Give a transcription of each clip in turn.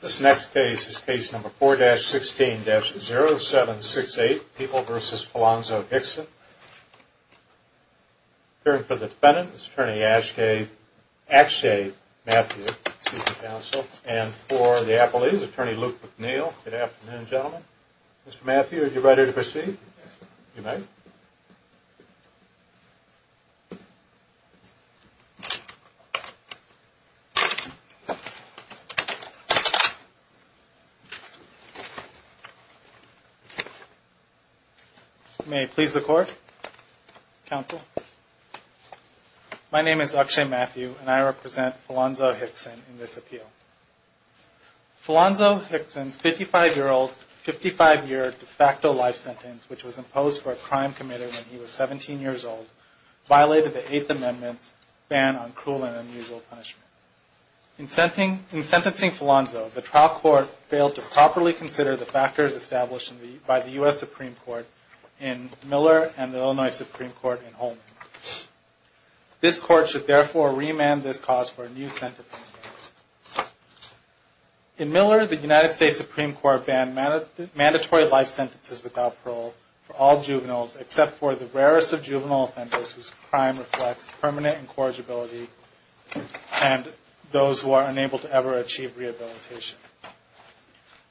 This next case is case number 4-16-0768, People v. Palanzo-Hixson. Appearing for the defendant is Attorney Akshay Matthew, Chief of Counsel, and for the appellees, Attorney Luke McNeil. Good afternoon, gentlemen. Mr. Matthew, are you ready to proceed? You may. May it please the Court, Counsel. My name is Akshay Matthew, and I represent Palanzo-Hixson in this appeal. Palanzo-Hixson's 55-year-old, 55-year de facto life sentence, which was imposed for a crime committed when he was 17 years old, violated the Eighth Amendment's ban on cruel and unusual punishment. In sentencing Palanzo, the trial court failed to properly consider the factors established by the U.S. Supreme Court in Miller and the Illinois Supreme Court in Holman. This Court should therefore remand this cause for a new sentencing. In Miller, the United States Supreme Court banned mandatory life sentences without parole for all juveniles except for the rarest of juvenile offenders whose crime reflects permanent incorrigibility and those who are unable to ever achieve rehabilitation.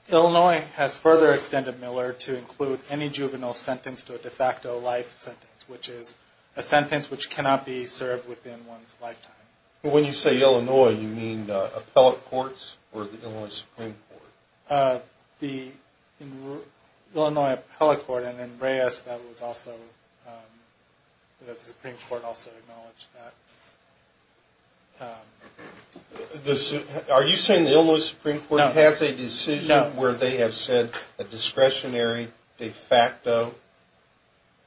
Illinois has further extended Miller to include any juvenile sentenced to a de facto life sentence, which is a sentence which cannot be served within one's lifetime. When you say Illinois, you mean appellate courts or the Illinois Supreme Court? The Illinois Appellate Court, and then Reyes, that was also, the Supreme Court also acknowledged that. Are you saying the Illinois Supreme Court has a decision where they have said that discretionary de facto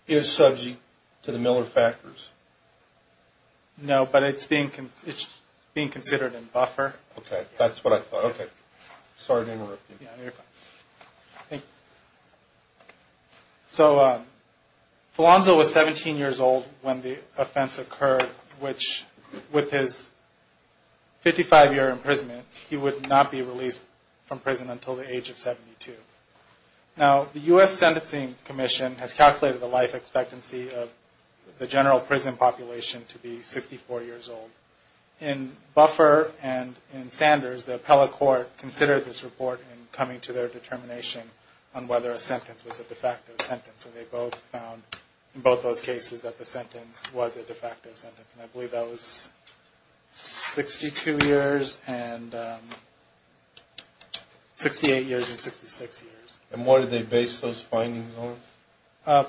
is subject to the Miller factors? No, but it's being considered in buffer. So Palanzo was 17 years old when the offense occurred, which with his 55-year imprisonment he would not be released from prison until the age of 72. Now the U.S. Sentencing Commission has calculated the life expectancy of the general prison population to be 64 years old. In buffer and in Sanders, the appellate court considered this report in coming to their determination on whether a sentence was a de facto sentence, and they both found in both those cases that the sentence was a de facto sentence. And I believe that was 62 years and 68 years and 66 years. And what did they base those findings on?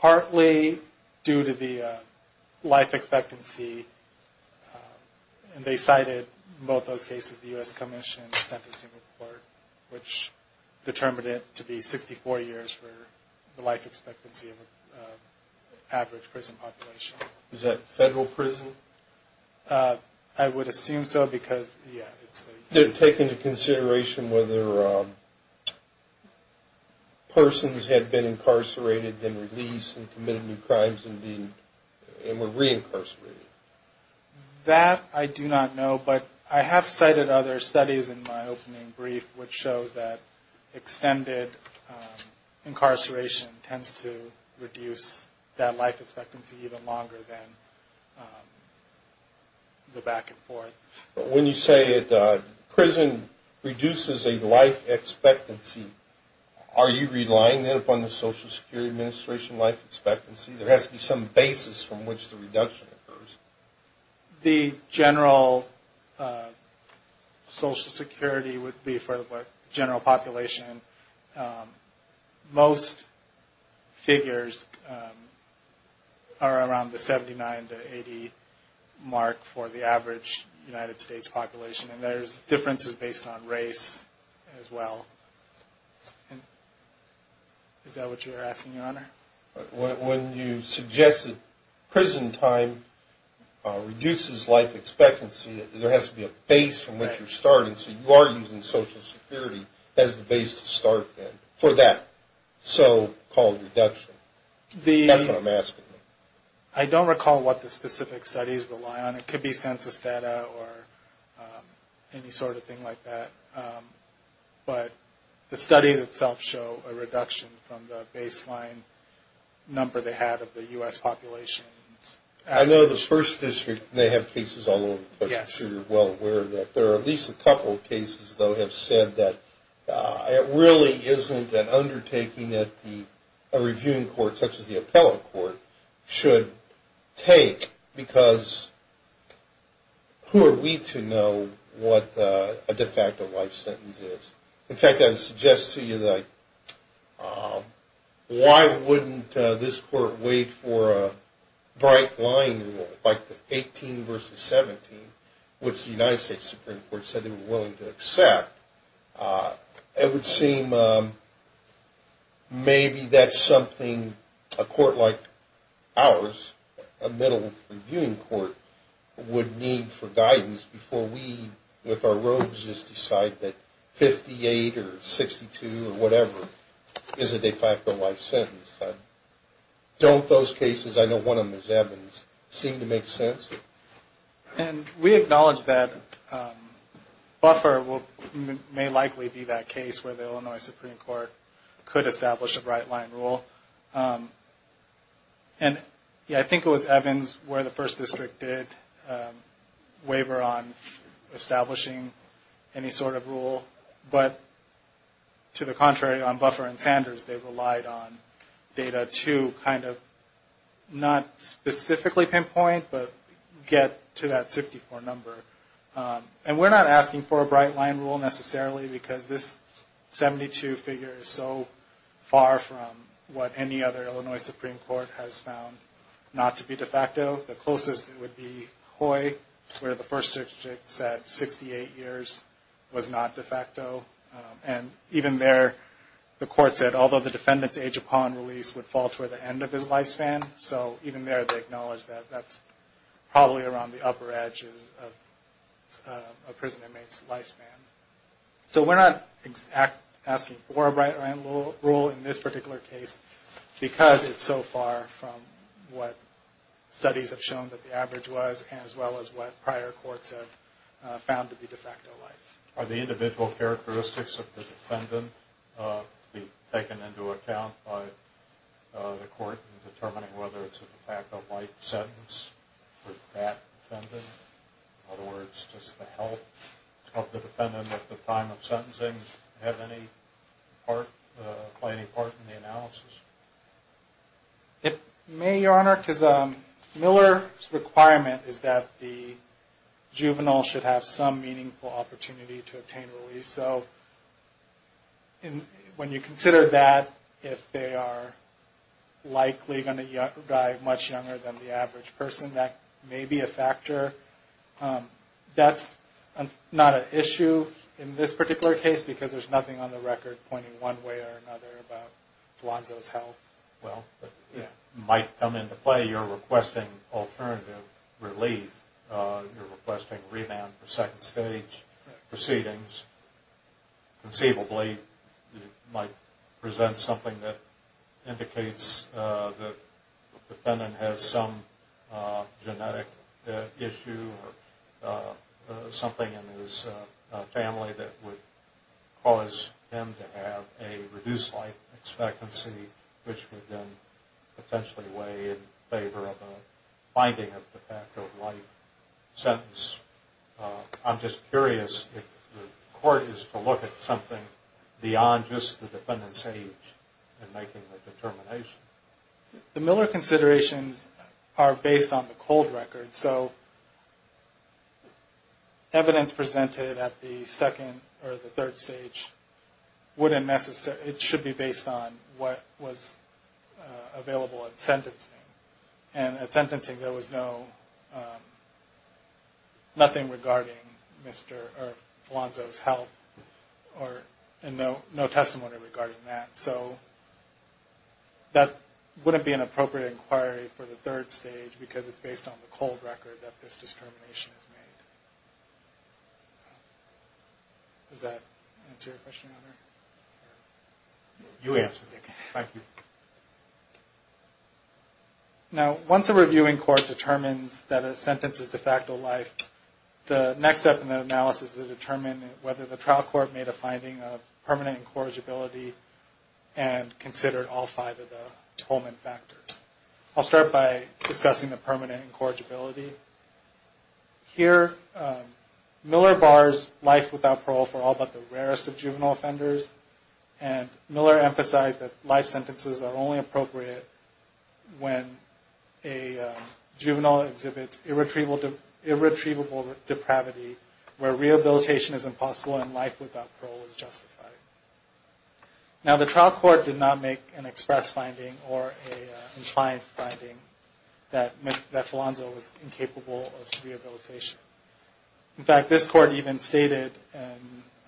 Partly due to the life expectancy, and they cited both those cases, the U.S. Commission Sentencing Report, which determined it to be 64 years for the life expectancy of the average prison population. Is that federal prison? I would assume so because, yeah. They're taking into consideration whether persons had been incarcerated, then released and committed new crimes and were reincarcerated. That I do not know, but I have cited other studies in my opening brief, which shows that extended incarceration tends to reduce that life expectancy even longer than the back and forth. But when you say prison reduces a life expectancy, are you relying then upon the Social Security Administration life expectancy? There has to be some basis from which the reduction occurs. The general Social Security would be for the general population. Most figures are around the 79 to 80 mark for the average United States population. And there's differences based on race as well. Is that what you're asking, Your Honor? When you suggest that prison time reduces life expectancy, there has to be a base from which you're starting. So you are using Social Security as the base to start then for that. I don't recall what the specific studies rely on. It could be census data or any sort of thing like that. But the studies itself show a reduction from the baseline number they have of the U.S. population. I know the first district, they have cases all over the place. I'm not sure you're well aware of that. There are at least a couple of cases that have said that it really isn't an undertaking that a reviewing court such as the appellate court should take because who are we to know what a de facto life sentence is? In fact, I would suggest to you that why wouldn't this court wait for a bright line rule like the 18 versus 17, which the United States Supreme Court said they were willing to accept. It would seem maybe that's something a court like ours, a middle reviewing court, would need for guidance before we with our rogues just decide that 58 or so cases, I know one of them is Evans, seem to make sense. We acknowledge that Buffer may likely be that case where the Illinois Supreme Court could establish a bright line rule. I think it was Evans where the first district did waver on establishing any sort of rule. But to the contrary, on Buffer and Sanders, they relied on data to kind of not specifically pinpoint, but get to that 64 number. And we're not asking for a bright line rule necessarily because this 72 figure is so far from what any other Illinois Supreme Court has found not to be de facto. The closest would be the first district said 68 years was not de facto. And even there, the court said although the defendant's age upon release would fall toward the end of his lifespan, so even there they acknowledge that that's probably around the upper edge of a prisoner's lifespan. So we're not asking for a bright line rule in this particular case because it's so far from what studies have shown that the average was as well as what prior courts have found to be de facto life. Are the individual characteristics of the defendant to be taken into account by the court in determining whether it's a de facto life sentence for that defendant? In other words, does the health of the defendant at the time of sentencing play any part in the analysis? It may, Your Honor, because Miller's requirement is that the juvenile should have some meaningful opportunity to obtain release. So when you consider that, if they are likely going to die much younger than the average person, that may be a factor. That's not an issue in this particular case because there's nothing on the record pointing one way or another about Lonzo's health. Well, it might come into play. You're requesting alternative relief. You're requesting remand for second stage proceedings. Conceivably, it might present something that indicates that the defendant has some genetic issue or something in his family that would cause him to have a reduced life expectancy, which would then potentially weigh in favor of a binding of de facto life sentence. I'm just curious if the court is to look at something beyond just the defendant's age in making the determination. The Miller considerations are based on the cold record. So evidence presented at the second or the third stage wouldn't necessarily, it should be based on what was available at sentencing. And at sentencing, there was no, nothing regarding Mr. or Lonzo's health or no testimony regarding that. So that wouldn't be an appropriate inquiry for the third stage because it's based on the cold record that this determination is made. Does that answer your question? You answered it. Thank you. Now, once a reviewing court determines that a sentence is de facto life, the next step in the analysis is to determine whether the trial court made a finding of permanent incorrigibility and considered all five of the Holman factors. I'll start by discussing the permanent incorrigibility. Here, Miller bars life without parole for all but the rarest of juvenile offenders. And Miller emphasized that life sentences are only appropriate when a juvenile exhibits irretrievable depravity where rehabilitation is impossible and life without parole is justified. Now, the trial court did not make an express finding or an inclined finding that Lonzo was incapable of rehabilitation. In fact, this court even stated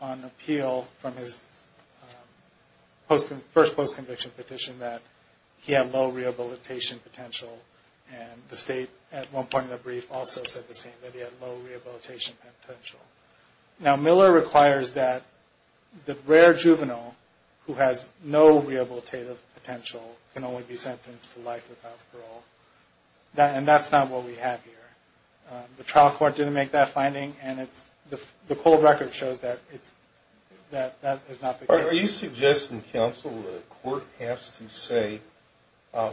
on appeal from his first post-conviction petition that he had low rehabilitation potential. And the state at one point in the brief also said the same, that he had low rehabilitation potential. Now, Miller requires that the rare juvenile who has no rehabilitative potential can only be sentenced to life without parole. And that's not what we have here. The trial court didn't make that finding and the cold record shows that that is not the case. Are you suggesting, counsel, that a court has to say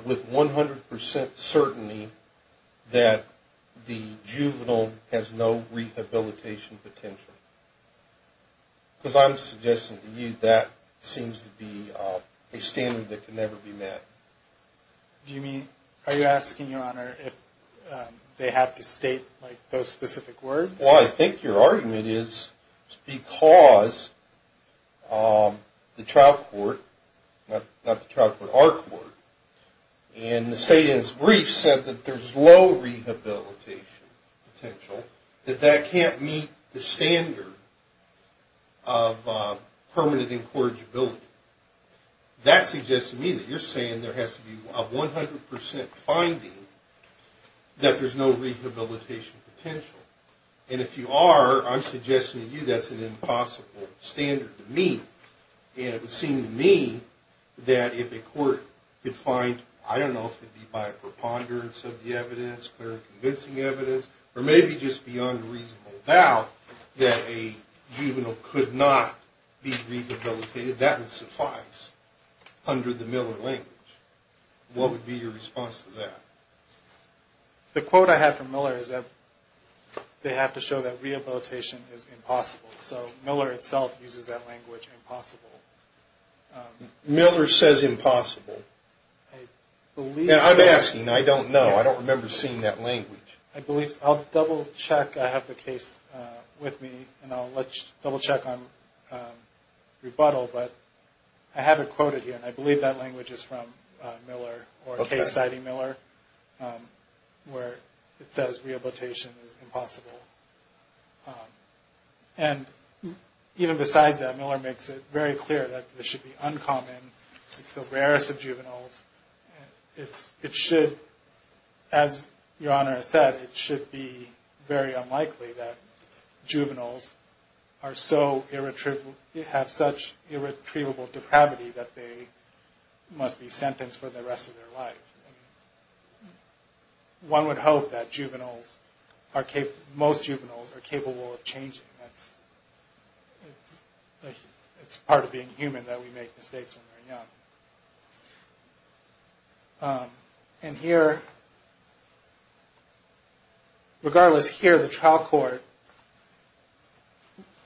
with 100 percent certainty that the juvenile has no rehabilitation potential? Because I'm suggesting to you that seems to be a standard that can never be met. Do you mean, are you asking, Your Honor, if they have to state those specific words? Well, I think your argument is because the trial court, not the trial court, our court, in the state in its brief said that there's low rehabilitation potential, that that can't meet the standard of permanent incorrigibility. That suggests to me that you're saying there has to be a 100 percent finding that there's no rehabilitation potential. And if you are, I'm suggesting to you that's an impossible standard to meet. And it would seem to me that if a court could find, I don't know, if it would be by a preponderance of the evidence, clear and convincing evidence, or maybe just beyond a reasonable doubt that a juvenile could not be rehabilitated, that would suffice under the Miller language. What would be your response to that? The quote I have from Miller is that they have to show that rehabilitation is impossible. So Miller itself uses that language, impossible. Miller says impossible. I'm asking. I don't know. I don't remember seeing that language. I'll double check. I have the case with me, and I'll double check on rebuttal. But I have it quoted here, and I believe that language is from Miller, or a case citing Miller, where it says rehabilitation is impossible. And even besides that, Miller makes it very clear that this should be uncommon. It's the rarest of juveniles. It should, as Your Honor has said, it should be very unlikely that juveniles are so irretrievable, have such irretrievable depravity that they must be sentenced for the rest of their life. One would hope that juveniles, most juveniles are capable of changing. It's part of being human that we make mistakes when we're young. And here, regardless, here the trial court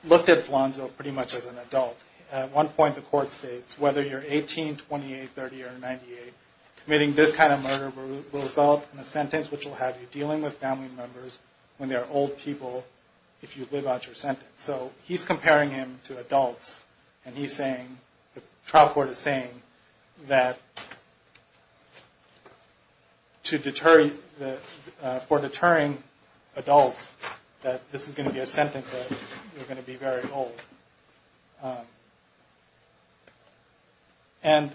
looked at Flonzo pretty much as an adult. At one point the court states, whether you're 18, 28, 30, or 98, committing this kind of murder will result in a sentence, which will have you dealing with family members when they're old people, if you live out your sentence. So he's comparing him to adults, and he's saying, the trial court is saying that to deter, for deterring adults, that this is going to be a sentence that you're going to be very old. And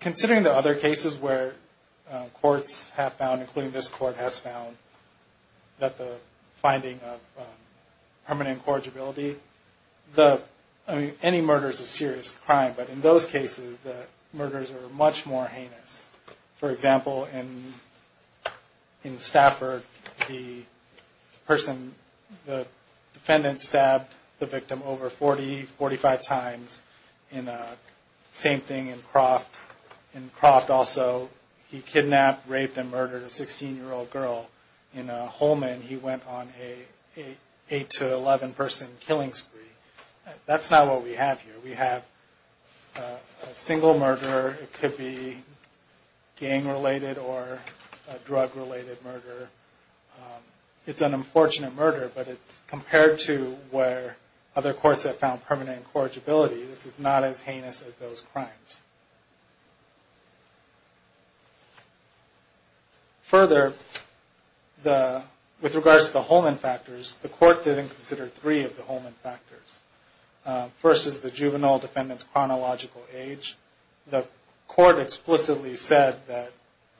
considering the other cases where courts have found, including this court has found, that the finding of permanent incorrigibility, the, I mean, any murder is a serious crime. But in those cases, the murders are much more heinous. For example, in Stafford, the person, the defendant stabbed the victim over 40, 45 times. And same thing in Croft. In Croft also, he kidnapped, raped, and murdered a 16-year-old girl. In Holman, he went on an 8 to 11 person killing spree. That's not what we have here. We have a single murderer, it could be gang-related or drug-related murder. It's an unfortunate murder, but it's compared to where other courts have found permanent incorrigibility. This is not as heinous as those crimes. Further, with regards to the Holman factors, the court didn't consider three of the Holman factors. First is the juvenile defendant's chronological age. The court explicitly said that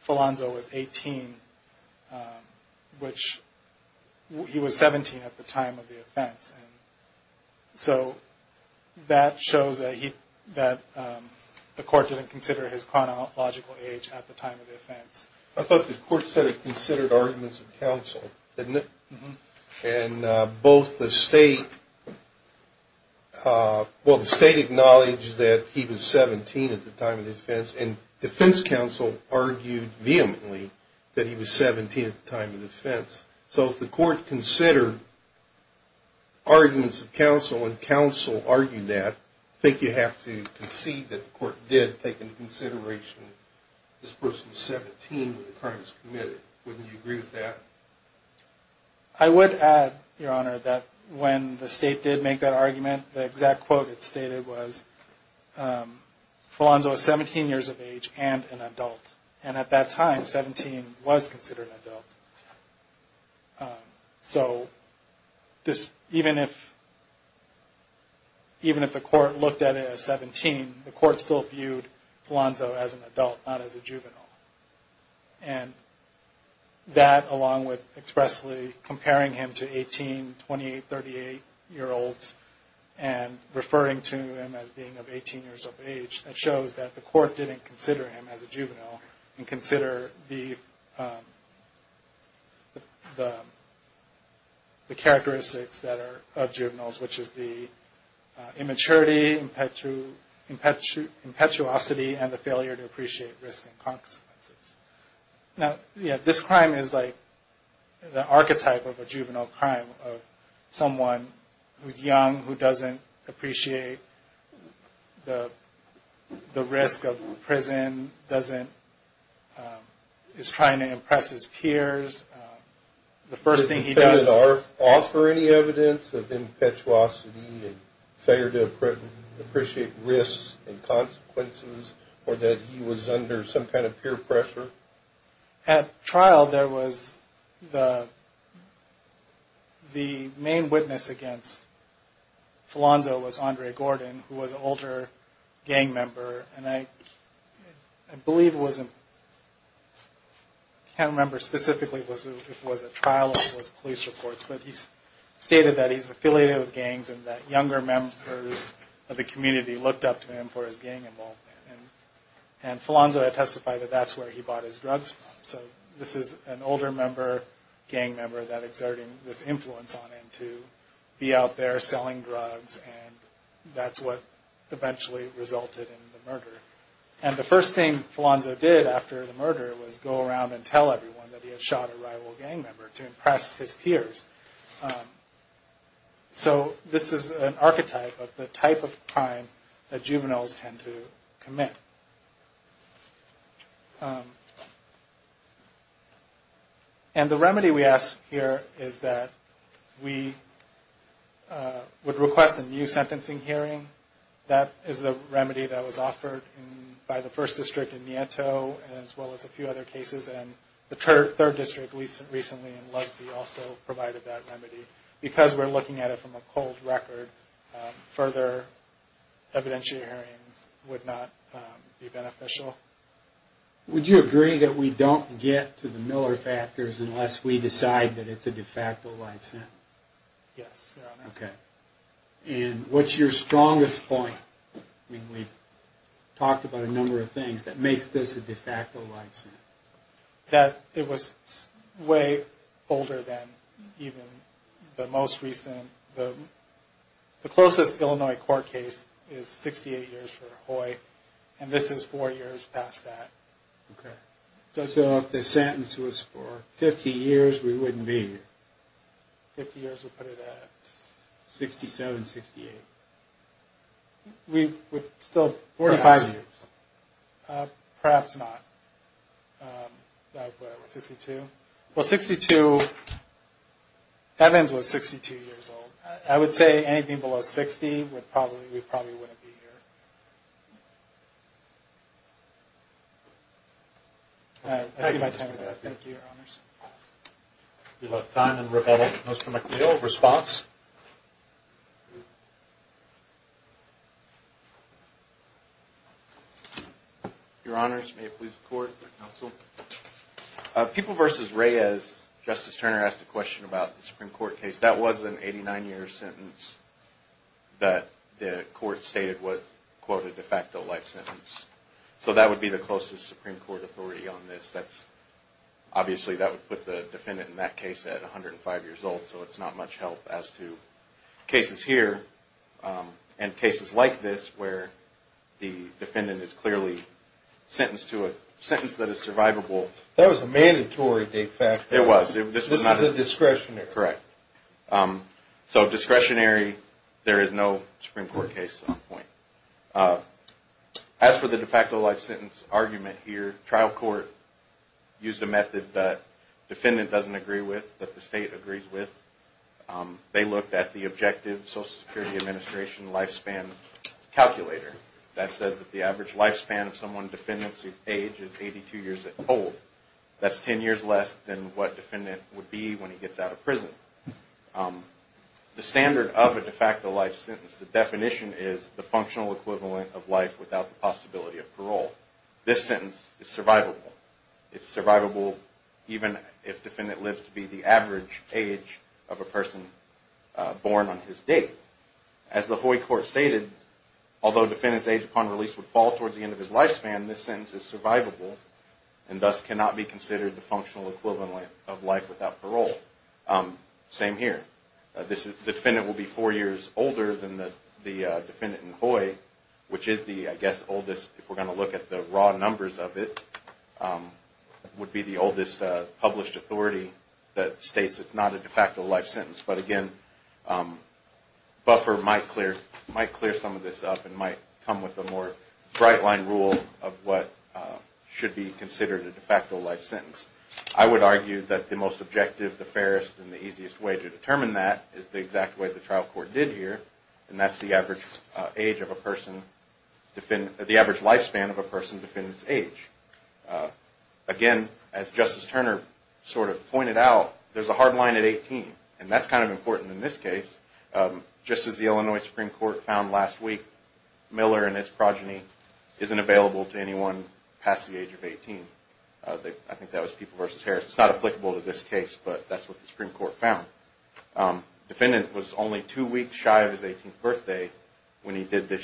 Falonzo was 18, which he was 17 at the time of the offense. So that shows that the court didn't consider his chronological age at the time of the offense. I thought the court said it considered arguments of counsel, didn't it? And both the state acknowledged that he was 17 at the time of the offense, and defense counsel argued vehemently that he was 17 at the time of the offense. So if the court considered arguments of counsel and counsel argued that, I think you have to concede that the court did take into consideration that this person was 17 when the crime was committed. Wouldn't you agree with that? I would add, Your Honor, that when the state did make that argument, the exact quote it stated was, Falonzo was 17 years of age and an adult. And at that time, 17 was considered an adult. So even if the court looked at it as 17, the court still viewed Falonzo as an adult, not as a juvenile. That, along with expressly comparing him to 18, 28, 38-year-olds, and referring to him as being of 18 years of age, that shows that the court didn't consider him as a juvenile and consider the characteristics of juveniles, which is the immaturity, impetuosity, and the failure to appreciate risk and consequences. Now, yeah, this crime is like the archetype of a juvenile crime of someone who's young, who doesn't appreciate the risk of prison, is trying to impress his peers. The first thing he does... At trial, there was the main witness against Falonzo was Andre Gordon, who was an older gang member. And I believe it was... I can't remember specifically if it was at trial or it was police reports, but he stated that he's affiliated with gangs and that younger members of the community looked up to him for his gang involvement. And Falonzo had testified that that's where he bought his drugs from. So this is an older member, gang member, that exerted this influence on him to be out there selling drugs, and that's what eventually resulted in the murder. And the first thing Falonzo did after the murder was go around and tell everyone that he had shot a rival gang member to impress his peers. So this is an archetype of the type of crime that juveniles tend to commit. And the remedy we ask here is that we would request a new sentencing hearing. That is the remedy that was offered by the first district in Nieto, as well as a few other cases, and the third district recently in Lusby also provided that remedy. Because we're looking at it from a cold record, further evidentiary hearings would not be beneficial. Would you agree that we don't get to the Miller factors unless we decide that it's a de facto life sentence? Yes, Your Honor. Okay, and what's your strongest point? I mean, we've talked about a number of things that makes this a de facto life sentence. That it was way older than even the most recent. The closest Illinois court case is 68 years for Hoy, and this is four years past that. Okay, so if the sentence was for 50 years, we wouldn't be here? 50 years, we'll put it at 67, 68. We're still 45 years. Perhaps not. Evans was 62 years old. I would say anything below 60, we probably wouldn't be here. I see my time is up. Thank you, Your Honors. We have time in rebuttal. Mr. McNeil, response? Your Honors, may it please the Court. People v. Reyes, Justice Turner asked a question about the Supreme Court case. That was an 89-year sentence that the Court stated was, quote, a de facto life sentence. So that would be the closest Supreme Court authority on this. Obviously that would put the defendant in that case at 105 years old, so it's not much help as to cases here and cases like this where the defendant is clearly sentenced to a sentence that is survivable. That was a mandatory de facto. This is a discretionary. Correct. So discretionary, there is no Supreme Court case on the point. As for the de facto life sentence argument here, trial court used a method that the defendant doesn't agree with, that the State agrees with. They looked at the objective Social Security Administration lifespan calculator that says that the average lifespan of someone's defendant's age is 82 years old. That's 10 years less than what a defendant would be when he gets out of prison. The standard of a de facto life sentence, the definition is the functional equivalent of life without the possibility of parole. This sentence is survivable. It's survivable even if the defendant lives to be the average age of a person born on his date. As the Hoy Court stated, although the defendant's age upon release would fall towards the end of his lifespan, this sentence is survivable and thus cannot be considered the functional equivalent of life without parole. Same here. The defendant will be four years older than the defendant in Hoy, which is the, I guess, oldest, if we're going to look at the raw numbers of it, would be the oldest published authority that states it's not a de facto life sentence. Buffer might clear some of this up and might come with a more bright-line rule of what should be considered a de facto life sentence. I would argue that the most objective, the fairest, and the easiest way to determine that is the exact way the trial court did here, and that's the average lifespan of a person's defendant's age. Again, as Justice Turner sort of pointed out, there's a hard line at 18, and that's kind of important in this case. Just as the Illinois Supreme Court found last week, Miller and his progeny isn't available to anyone past the age of 18. I think that was People v. Harris. It's not applicable to this case, but that's what the Supreme Court found. Defendant was only two weeks shy of his 18th birthday when he did this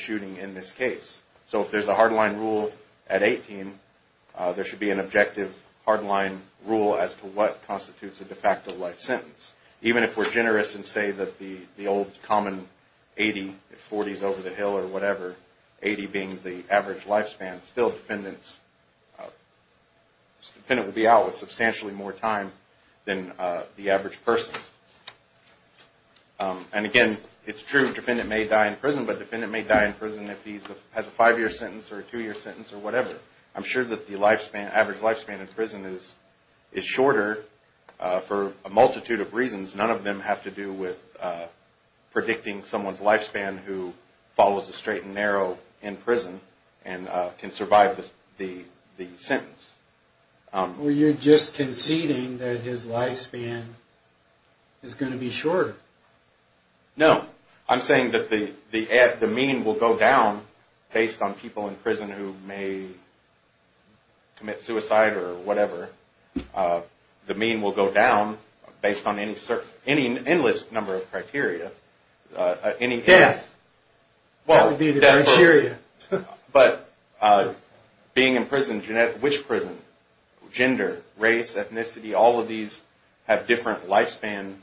There should be an objective, hard-line rule as to what constitutes a de facto life sentence. Even if we're generous and say that the old common 80, 40 is over the hill or whatever, 80 being the average lifespan, still defendants, defendant would be out with substantially more time than the average person. And again, it's true, defendant may die in prison, but the average lifespan in prison is shorter for a multitude of reasons. None of them have to do with predicting someone's lifespan who follows a straight and narrow in prison and can survive the sentence. Well, you're just conceding that his lifespan is going to be shorter. No, I'm saying that the mean will go down based on people in prison who may commit suicide or whatever. The mean will go down based on any certain, any endless number of criteria. Death, that would be the criteria. But being in prison, which prison, gender, race, ethnicity, all of these have different lifespan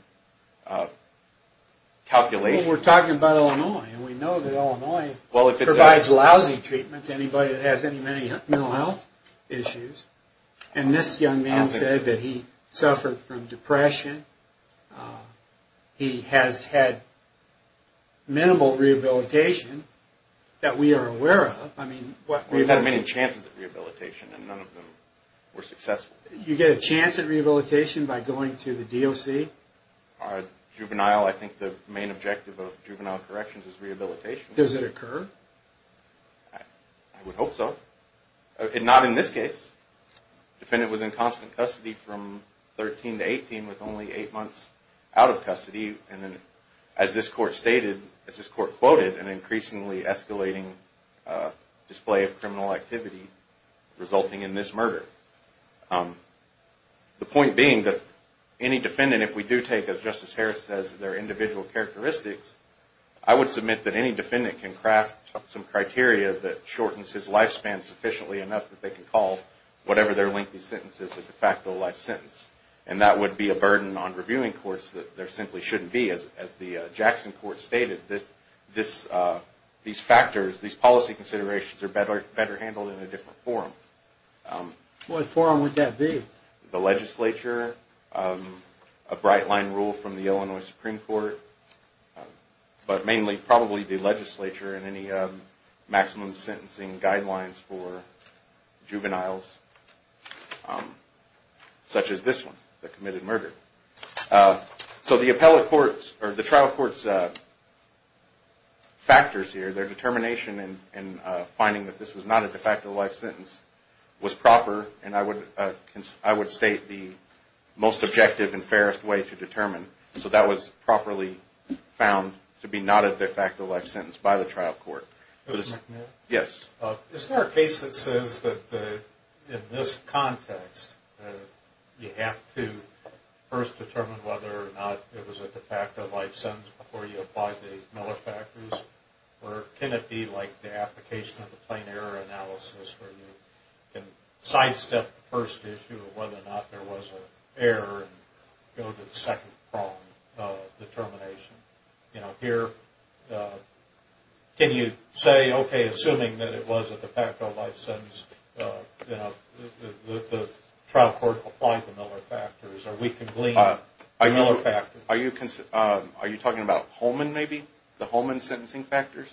calculations. We're talking about Illinois, and we know that Illinois provides lousy treatment to anybody that has any mental health issues. And this young man said that he suffered from depression. He has had minimal rehabilitation that we are aware of. He's had many chances of rehabilitation, and none of them were successful. You get a chance at rehabilitation by going to the DOC? I think the main objective of juvenile corrections is rehabilitation. Does it occur? I would hope so. Not in this case. Defendant was in constant custody from 13 to 18 with only 8 months out of custody. As this court stated, as this court quoted, an increasingly escalating display of criminal activity resulting in this murder. The point being that any defendant, if we do take, as Justice Harris says, their individual characteristics, I would submit that any defendant can craft some criteria that shortens his lifespan sufficiently enough that they can call whatever their lengthy sentence is a de facto life sentence. And that would be a burden on reviewing courts that there simply shouldn't be. As the Jackson court stated, these factors, these policy considerations are better handled in a different forum. What forum would that be? The legislature, a bright line rule from the Illinois Supreme Court, but mainly probably the legislature and any maximum sentencing guidelines for juveniles, such as this one that committed murder. The trial court's factors here, their determination in finding that this was not a de facto life sentence was proper and I would state the most objective and fairest way to determine. So that was properly found to be not a de facto life sentence by the trial court. Yes? Is there a case that says that in this context you have to first determine whether or not it was a de facto life sentence before you apply the Miller factors? Or can it be like the application of the plain error analysis where you can sidestep the first issue of whether or not there was an error and go to the second prong determination? Here, can you say, okay, assuming that it was a de facto life sentence, the trial court applied the Miller factors or we can glean the Miller factors? Are you talking about Holman maybe? The Holman sentencing factors?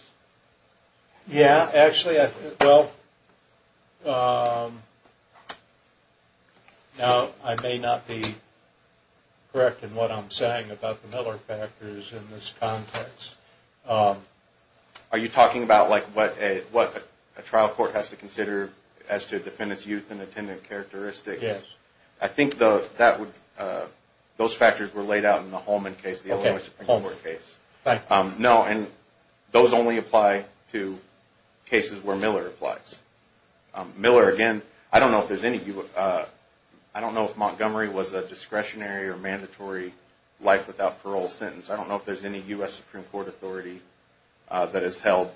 Yeah, actually, I may not be correct in what I'm saying about the Miller factors in this context. Are you talking about what a trial court has to consider as to defendant's youth and attendant characteristics? I think those factors were laid out in the Holman case, the Illinois Supreme Court case. No, and those only apply to cases where Miller applies. Miller, again, I don't know if there's any... I don't know if Montgomery was a discretionary or mandatory life without parole sentence. I don't know if there's any U.S. Supreme Court authority that has held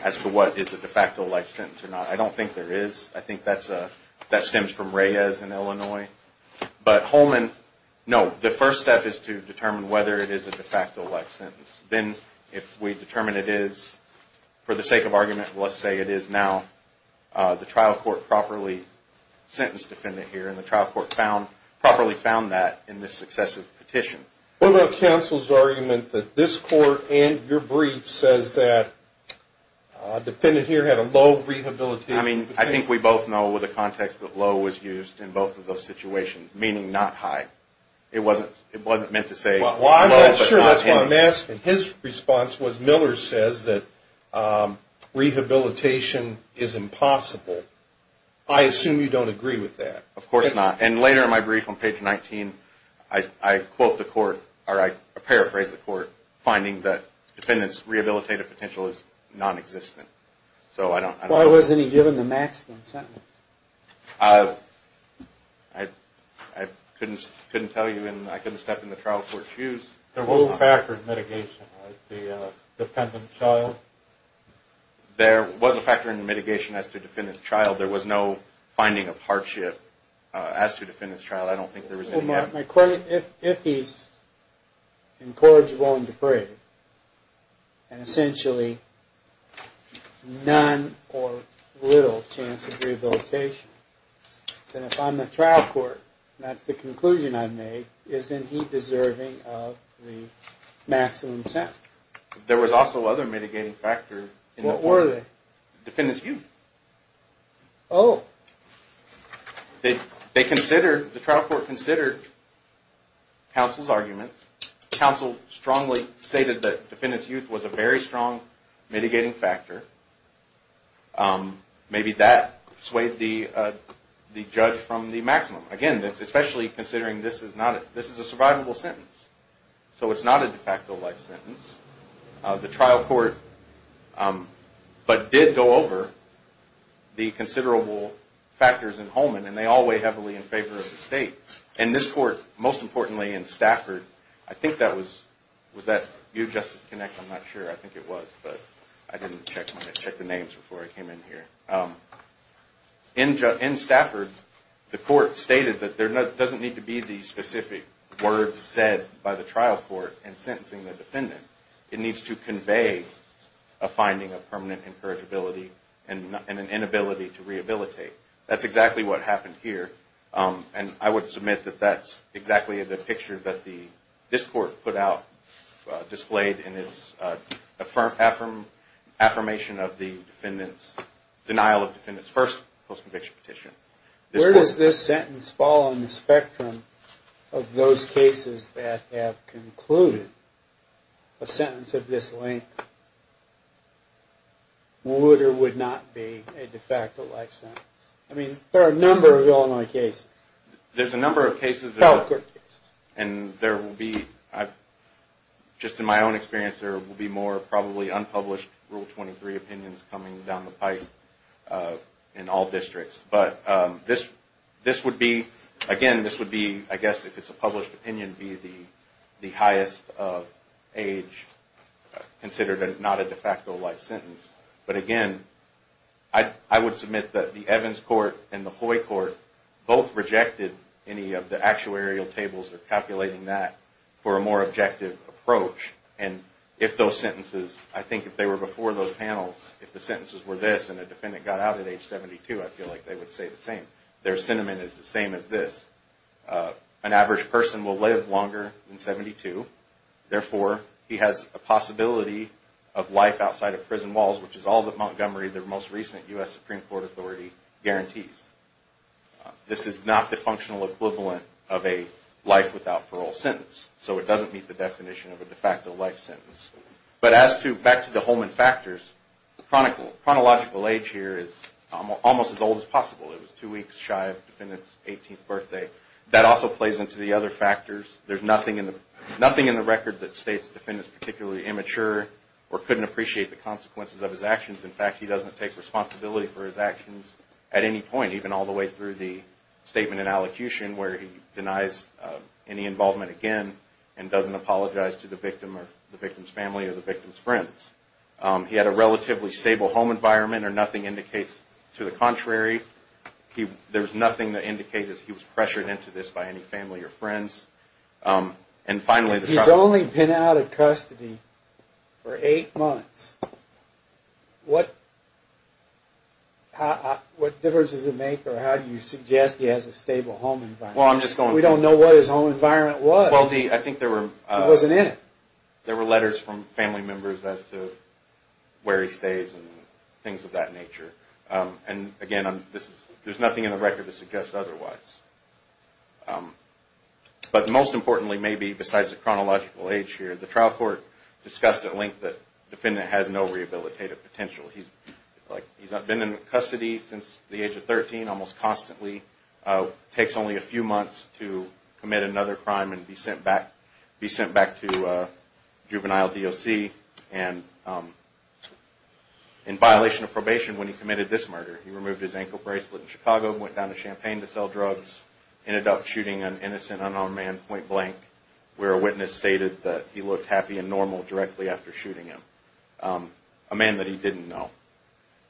as to what is a de facto life sentence or not. I don't think there is. I think that stems from Reyes in Illinois. But Holman, no, the first step is to determine whether it is a de facto life sentence. Then if we determine it is, for the sake of argument, let's say it is now the trial court properly sentenced defendant here and the trial court properly found that in this successive petition. What about counsel's argument that this court and your brief says that defendant here had a low rehabilitation... I mean, I think we both know with the context that low was used in both of those situations, meaning not high. It wasn't meant to say low, but not high. Well, I'm not sure that's what I'm asking. His response was Miller says that rehabilitation is impossible. I assume you don't agree with that. Of course not. And later in my brief on page 19, I quote the court, or I paraphrase the court, finding that defendant's rehabilitative potential is nonexistent. So I don't... Why wasn't he given the maximum sentence? I couldn't tell you and I couldn't step in the trial court's shoes. There was a factor in mitigation, right? The defendant's trial? There was a factor in the mitigation as to defendant's trial. There was no finding of hardship as to defendant's trial. I don't think there was any... If he's incorrigible and depraved and essentially none or little chance of rehabilitation, then if I'm the trial court and that's the conclusion I've made, isn't he deserving of the maximum sentence? There was also other mitigating factors. What were they? Defendant's youth. Oh. The trial court considered counsel's argument. Counsel strongly stated that defendant's youth was a very strong mitigating factor. Maybe that swayed the judge from the maximum. Again, especially considering this is a survivable sentence. So it's not a de facto life sentence. The trial court, but did go over the considerable factors in Holman and they all weigh heavily in favor of the state. And this court, most importantly in Stafford, I think that was... Was that UJustice Connect? I'm not sure. I think it was, but I didn't check the names before I came in here. In Stafford, the court stated that there doesn't need to be the specific words said by the trial court in sentencing the defendant. It needs to convey a finding of permanent incorrigibility and an inability to rehabilitate. That's exactly what happened here. And I would submit that that's exactly the picture that this court put out, displayed in this affirmation of the denial of defendant's first post-conviction petition. Where does this sentence fall on the spectrum of those cases that have concluded a sentence of this length? Would or would not be a de facto life sentence? I mean, there are a number of Illinois cases. There's a number of cases and there will be, just in my own experience, there will be more probably unpublished Rule 23 opinions coming down the pipe in all districts. But this would be, again, this would be, I guess if it's a published opinion, be the highest age considered not a de facto life sentence. But again, I would submit that the Evans Court and the Hoy Court both rejected any of the actuarial tables or calculating that for a more objective approach. And if those sentences, I think if they were before those panels, if the sentences were this and a defendant got out at age 72, I feel like they would say the same. Their sentiment is the same as this. An average person will live longer than 72. Therefore, he has a possibility of life outside of prison walls, which is all that Montgomery, their most recent U.S. Supreme Court authority, guarantees. This is not the functional equivalent of a life without parole sentence. So it doesn't meet the definition of a de facto life sentence. But as to, back to the Holman factors, chronological age here is almost as old as possible. It was two weeks shy of nothing in the record that states the defendant is particularly immature or couldn't appreciate the consequences of his actions. In fact, he doesn't take responsibility for his actions at any point, even all the way through the statement in allocution where he denies any involvement again and doesn't apologize to the victim or the victim's family or the victim's friends. He had a relatively stable home environment or nothing indicates to the contrary. There's nothing that indicates he was pressured into this by any family or friends. And finally, he's only been out of custody for eight months. What difference does it make or how do you suggest he has a stable home environment? We don't know what his home environment was. He wasn't in it. There were letters from family members as to where he stays and things of that nature. And again, there's nothing in the record to suggest otherwise. But most importantly, maybe besides the chronological age here, the trial court discussed at length that the defendant has no rehabilitative potential. He's been in custody since the age of 13 almost constantly, takes only a few months to commit another crime and be sent back to juvenile DOC. And in violation of probation when he committed this murder, he removed his ankle bracelet in Chicago, went down to Champaign to sell drugs, ended up shooting an innocent unarmed man point blank where a witness stated that he looked happy and normal directly after shooting him, a man that he didn't know.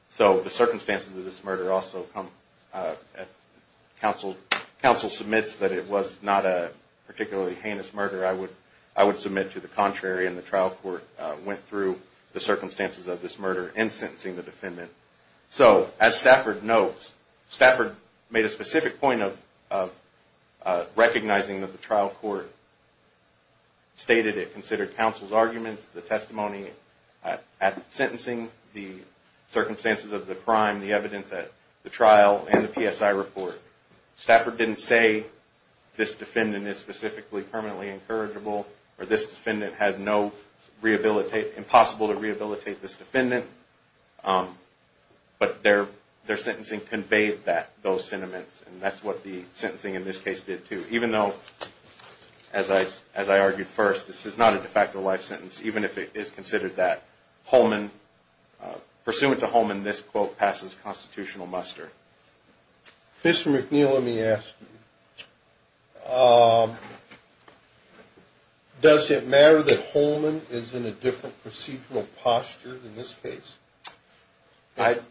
So the circumstances of this murder also come, counsel submits that it was not a particularly heinous murder. I would submit to the contrary and the trial court went through the circumstances of this murder in sentencing the defendant. So as Stafford notes, Stafford made a specific point of recognizing that the trial court stated it considered counsel's arguments, the testimony at sentencing, the circumstances of the crime, the evidence at the trial and the PSI report. Stafford didn't say this defendant is specifically permanently incorrigible or this defendant has no, impossible to rehabilitate this defendant. But their sentencing conveyed those sentiments and that's what the sentencing in this case did too. Even though, as I argued first, this is not a de facto life sentence even if it is considered that. Holman, pursuant to Holman, this quote passes constitutional muster. Mr. McNeil, let me ask you. Does it matter that Holman is in a different procedural posture in this case? Do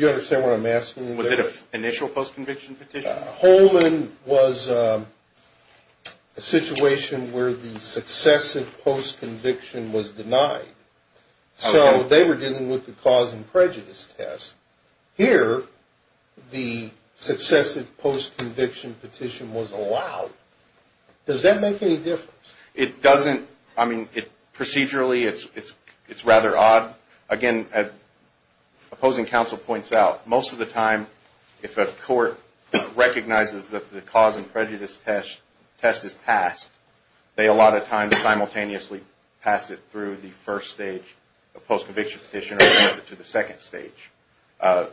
you understand what I'm asking? Was it an initial post conviction petition? Holman was a So they were dealing with the cause and prejudice test. Here, the successive post conviction petition was allowed. Does that make any difference? It doesn't. I mean, procedurally it's rather odd. Again, opposing counsel points out, most of the time if a court recognizes that the cause and prejudice test is passed, they a lot of times simultaneously pass it through the first stage of the post conviction petition or pass it to the second stage. The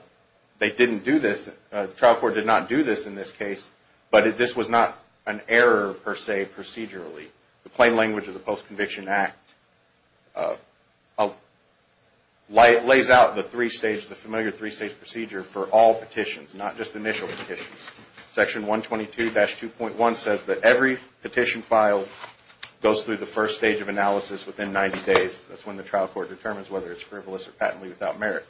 trial court did not do this in this case, but this was not an error per se procedurally. The plain language of the post conviction act lays out the familiar three stage procedure for all petitions, not just one. The petition filed goes through the first stage of analysis within 90 days. That's when the trial court determines whether it's frivolous or patently without merit.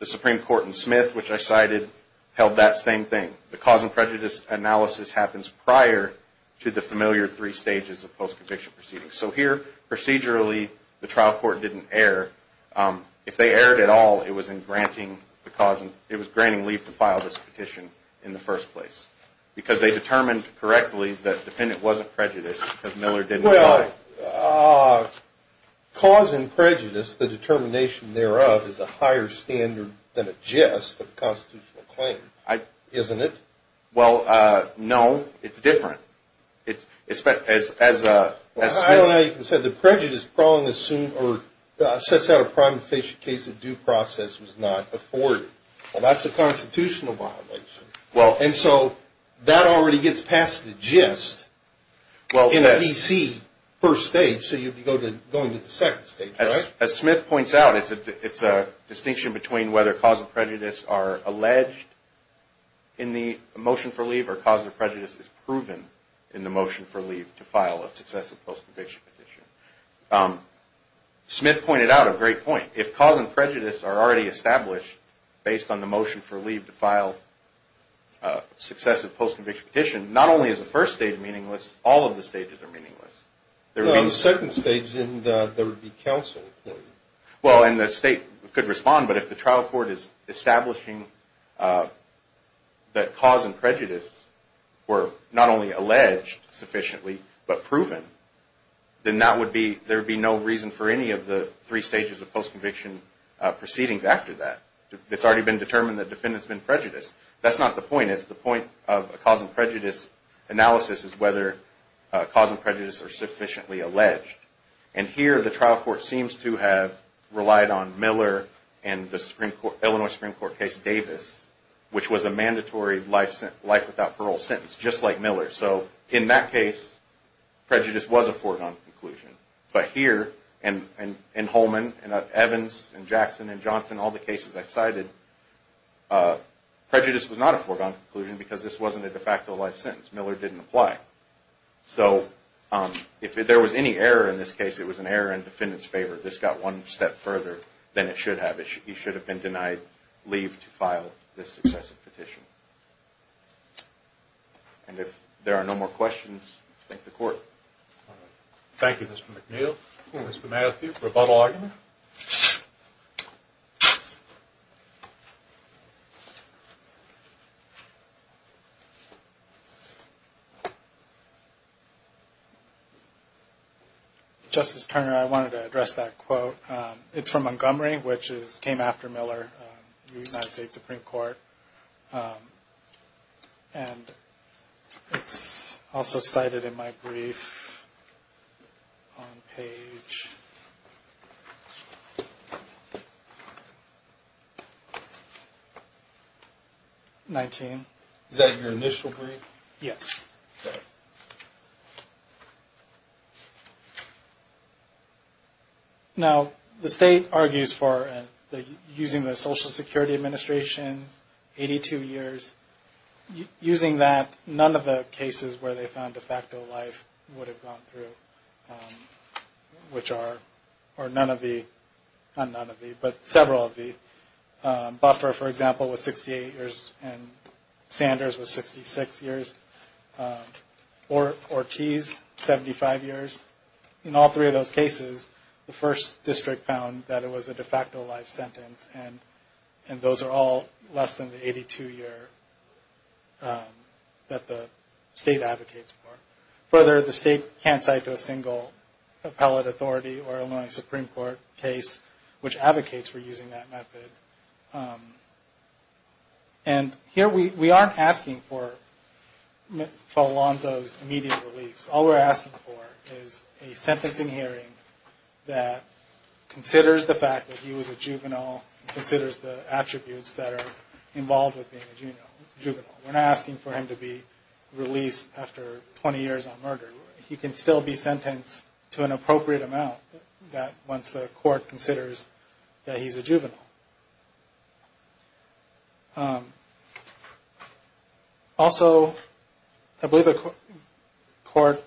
The Supreme Court in Smith, which I cited, held that same thing. The cause and prejudice analysis happens prior to the familiar three stages of post conviction proceedings. So here, procedurally, the trial court didn't err. If they erred at all, it was in granting leave to file this petition in the first place. Because they determined correctly that the defendant wasn't prejudiced because Miller didn't lie. Cause and prejudice, the determination thereof, is a higher standard than a jest of a constitutional claim, isn't it? Well, no. It's different. As Smith... As Smith pointed out, it's a distinction between whether cause and prejudice are alleged in the motion for leave or cause and prejudice is proven in the motion for leave to file a successful post conviction petition. Well, that's a constitutional violation. Smith pointed out a great point. If cause and prejudice are already established based on the motion for leave to file a successful post conviction petition, not only is the first stage meaningless, all of the stages are meaningless. No, the second stage, there would be counsel. Well, and the state could respond, but if the trial court is establishing that cause and prejudice were not only alleged sufficiently, but proven, then there would be no reason for any of the three stages of post conviction proceedings after that. It's already been determined that the defendant's been prejudiced. That's not the point. The point of a cause and prejudice analysis is whether cause and prejudice are sufficiently alleged. And here, the trial court seems to have relied on Miller and the Illinois Supreme Court case Davis, which was a mandatory life without parole sentence, just like Miller. So, in that case, prejudice was a foregone conclusion. But here, in Holman, in Evans, in Jackson, in Johnson, all the cases I cited, prejudice was not a foregone conclusion because this wasn't a de facto life sentence. Miller didn't apply. So, if there was any error in this case, it was an error in the defendant's favor. This got one step further than it should have. He should have been denied leave to file this successive petition. And if there are no more questions, thank the court. Thank you, Mr. McNeil. Mr. Matthews, rebuttal argument. Justice Turner, I wanted to address that quote. It's from Montgomery, which came after Miller, the United States Supreme Court. And it's also cited in my brief on page 19. Is that your initial brief? Yes. Now, the state argues for, using the Social Security Administration's 82 years, using that, none of the cases where they found de facto life would have gone through, which are, or none of the, not none of the, but several of the, Buffer, for example, was 68 years, and Sanders was 66 years, Ortiz, 75 years. In all three of those cases, the first district found that it was a de facto life sentence. And those are all less than the 82 year that the state advocates for. Further, the state can't cite a single appellate authority or Illinois Supreme Court case which advocates for using that method. And here, we aren't asking for Falonzo's immediate release. All we're asking for is a sentencing hearing that considers the fact that he was a juvenile, considers the attributes that are involved with being a juvenile. We're not asking for him to be released after 20 years on murder. He can still be sentenced to an appropriate amount that, once the court considers that he's a juvenile. Also, I believe the court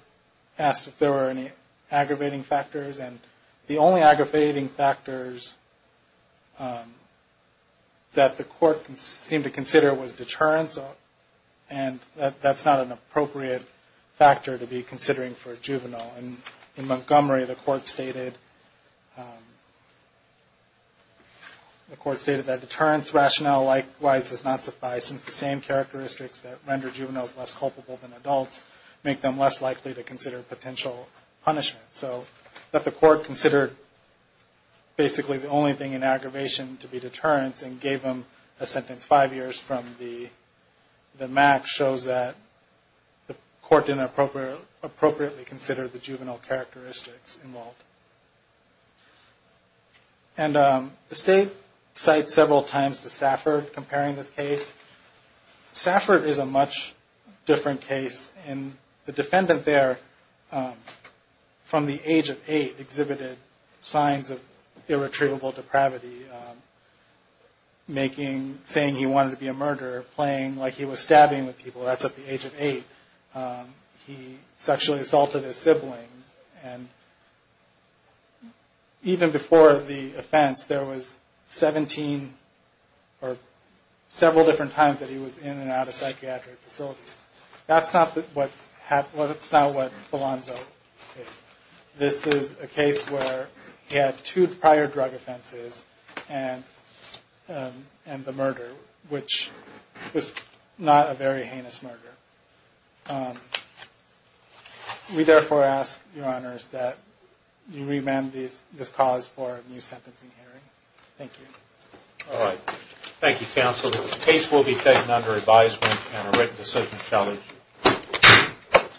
asked if there were any aggravating factors, and the only aggravating factors that the court seemed to consider was deterrence, and that's not an appropriate factor to be considering for a juvenile. In Montgomery, the court stated that deterrence rationale likewise does not suffice, since the same characteristics that render juveniles less culpable than adults make them less likely to consider potential punishment. So that the court considered basically the only thing in aggravation to be deterrence and gave him a sentence five years from the max shows that the court didn't appropriately consider the juvenile characteristics involved. And the state cites several times the Stafford comparing this case. Stafford is a much different case, and the defendant there from the age of eight exhibited signs of irretrievable depravity, saying he wanted to be a murderer, playing like he was stabbing people. That's at the age of eight. He sexually assaulted his siblings. And even before the offense, there was 17 or several different times that he was in and out of psychiatric facilities. That's not what Belanzo is. This is a case where he had two prior drug offenses and the murder, which was not a very heinous murder. We therefore ask your honors that you remand this cause for a new sentencing hearing. Thank you. Thank you counsel. The case will be taken under advisement and a written decision shall issue.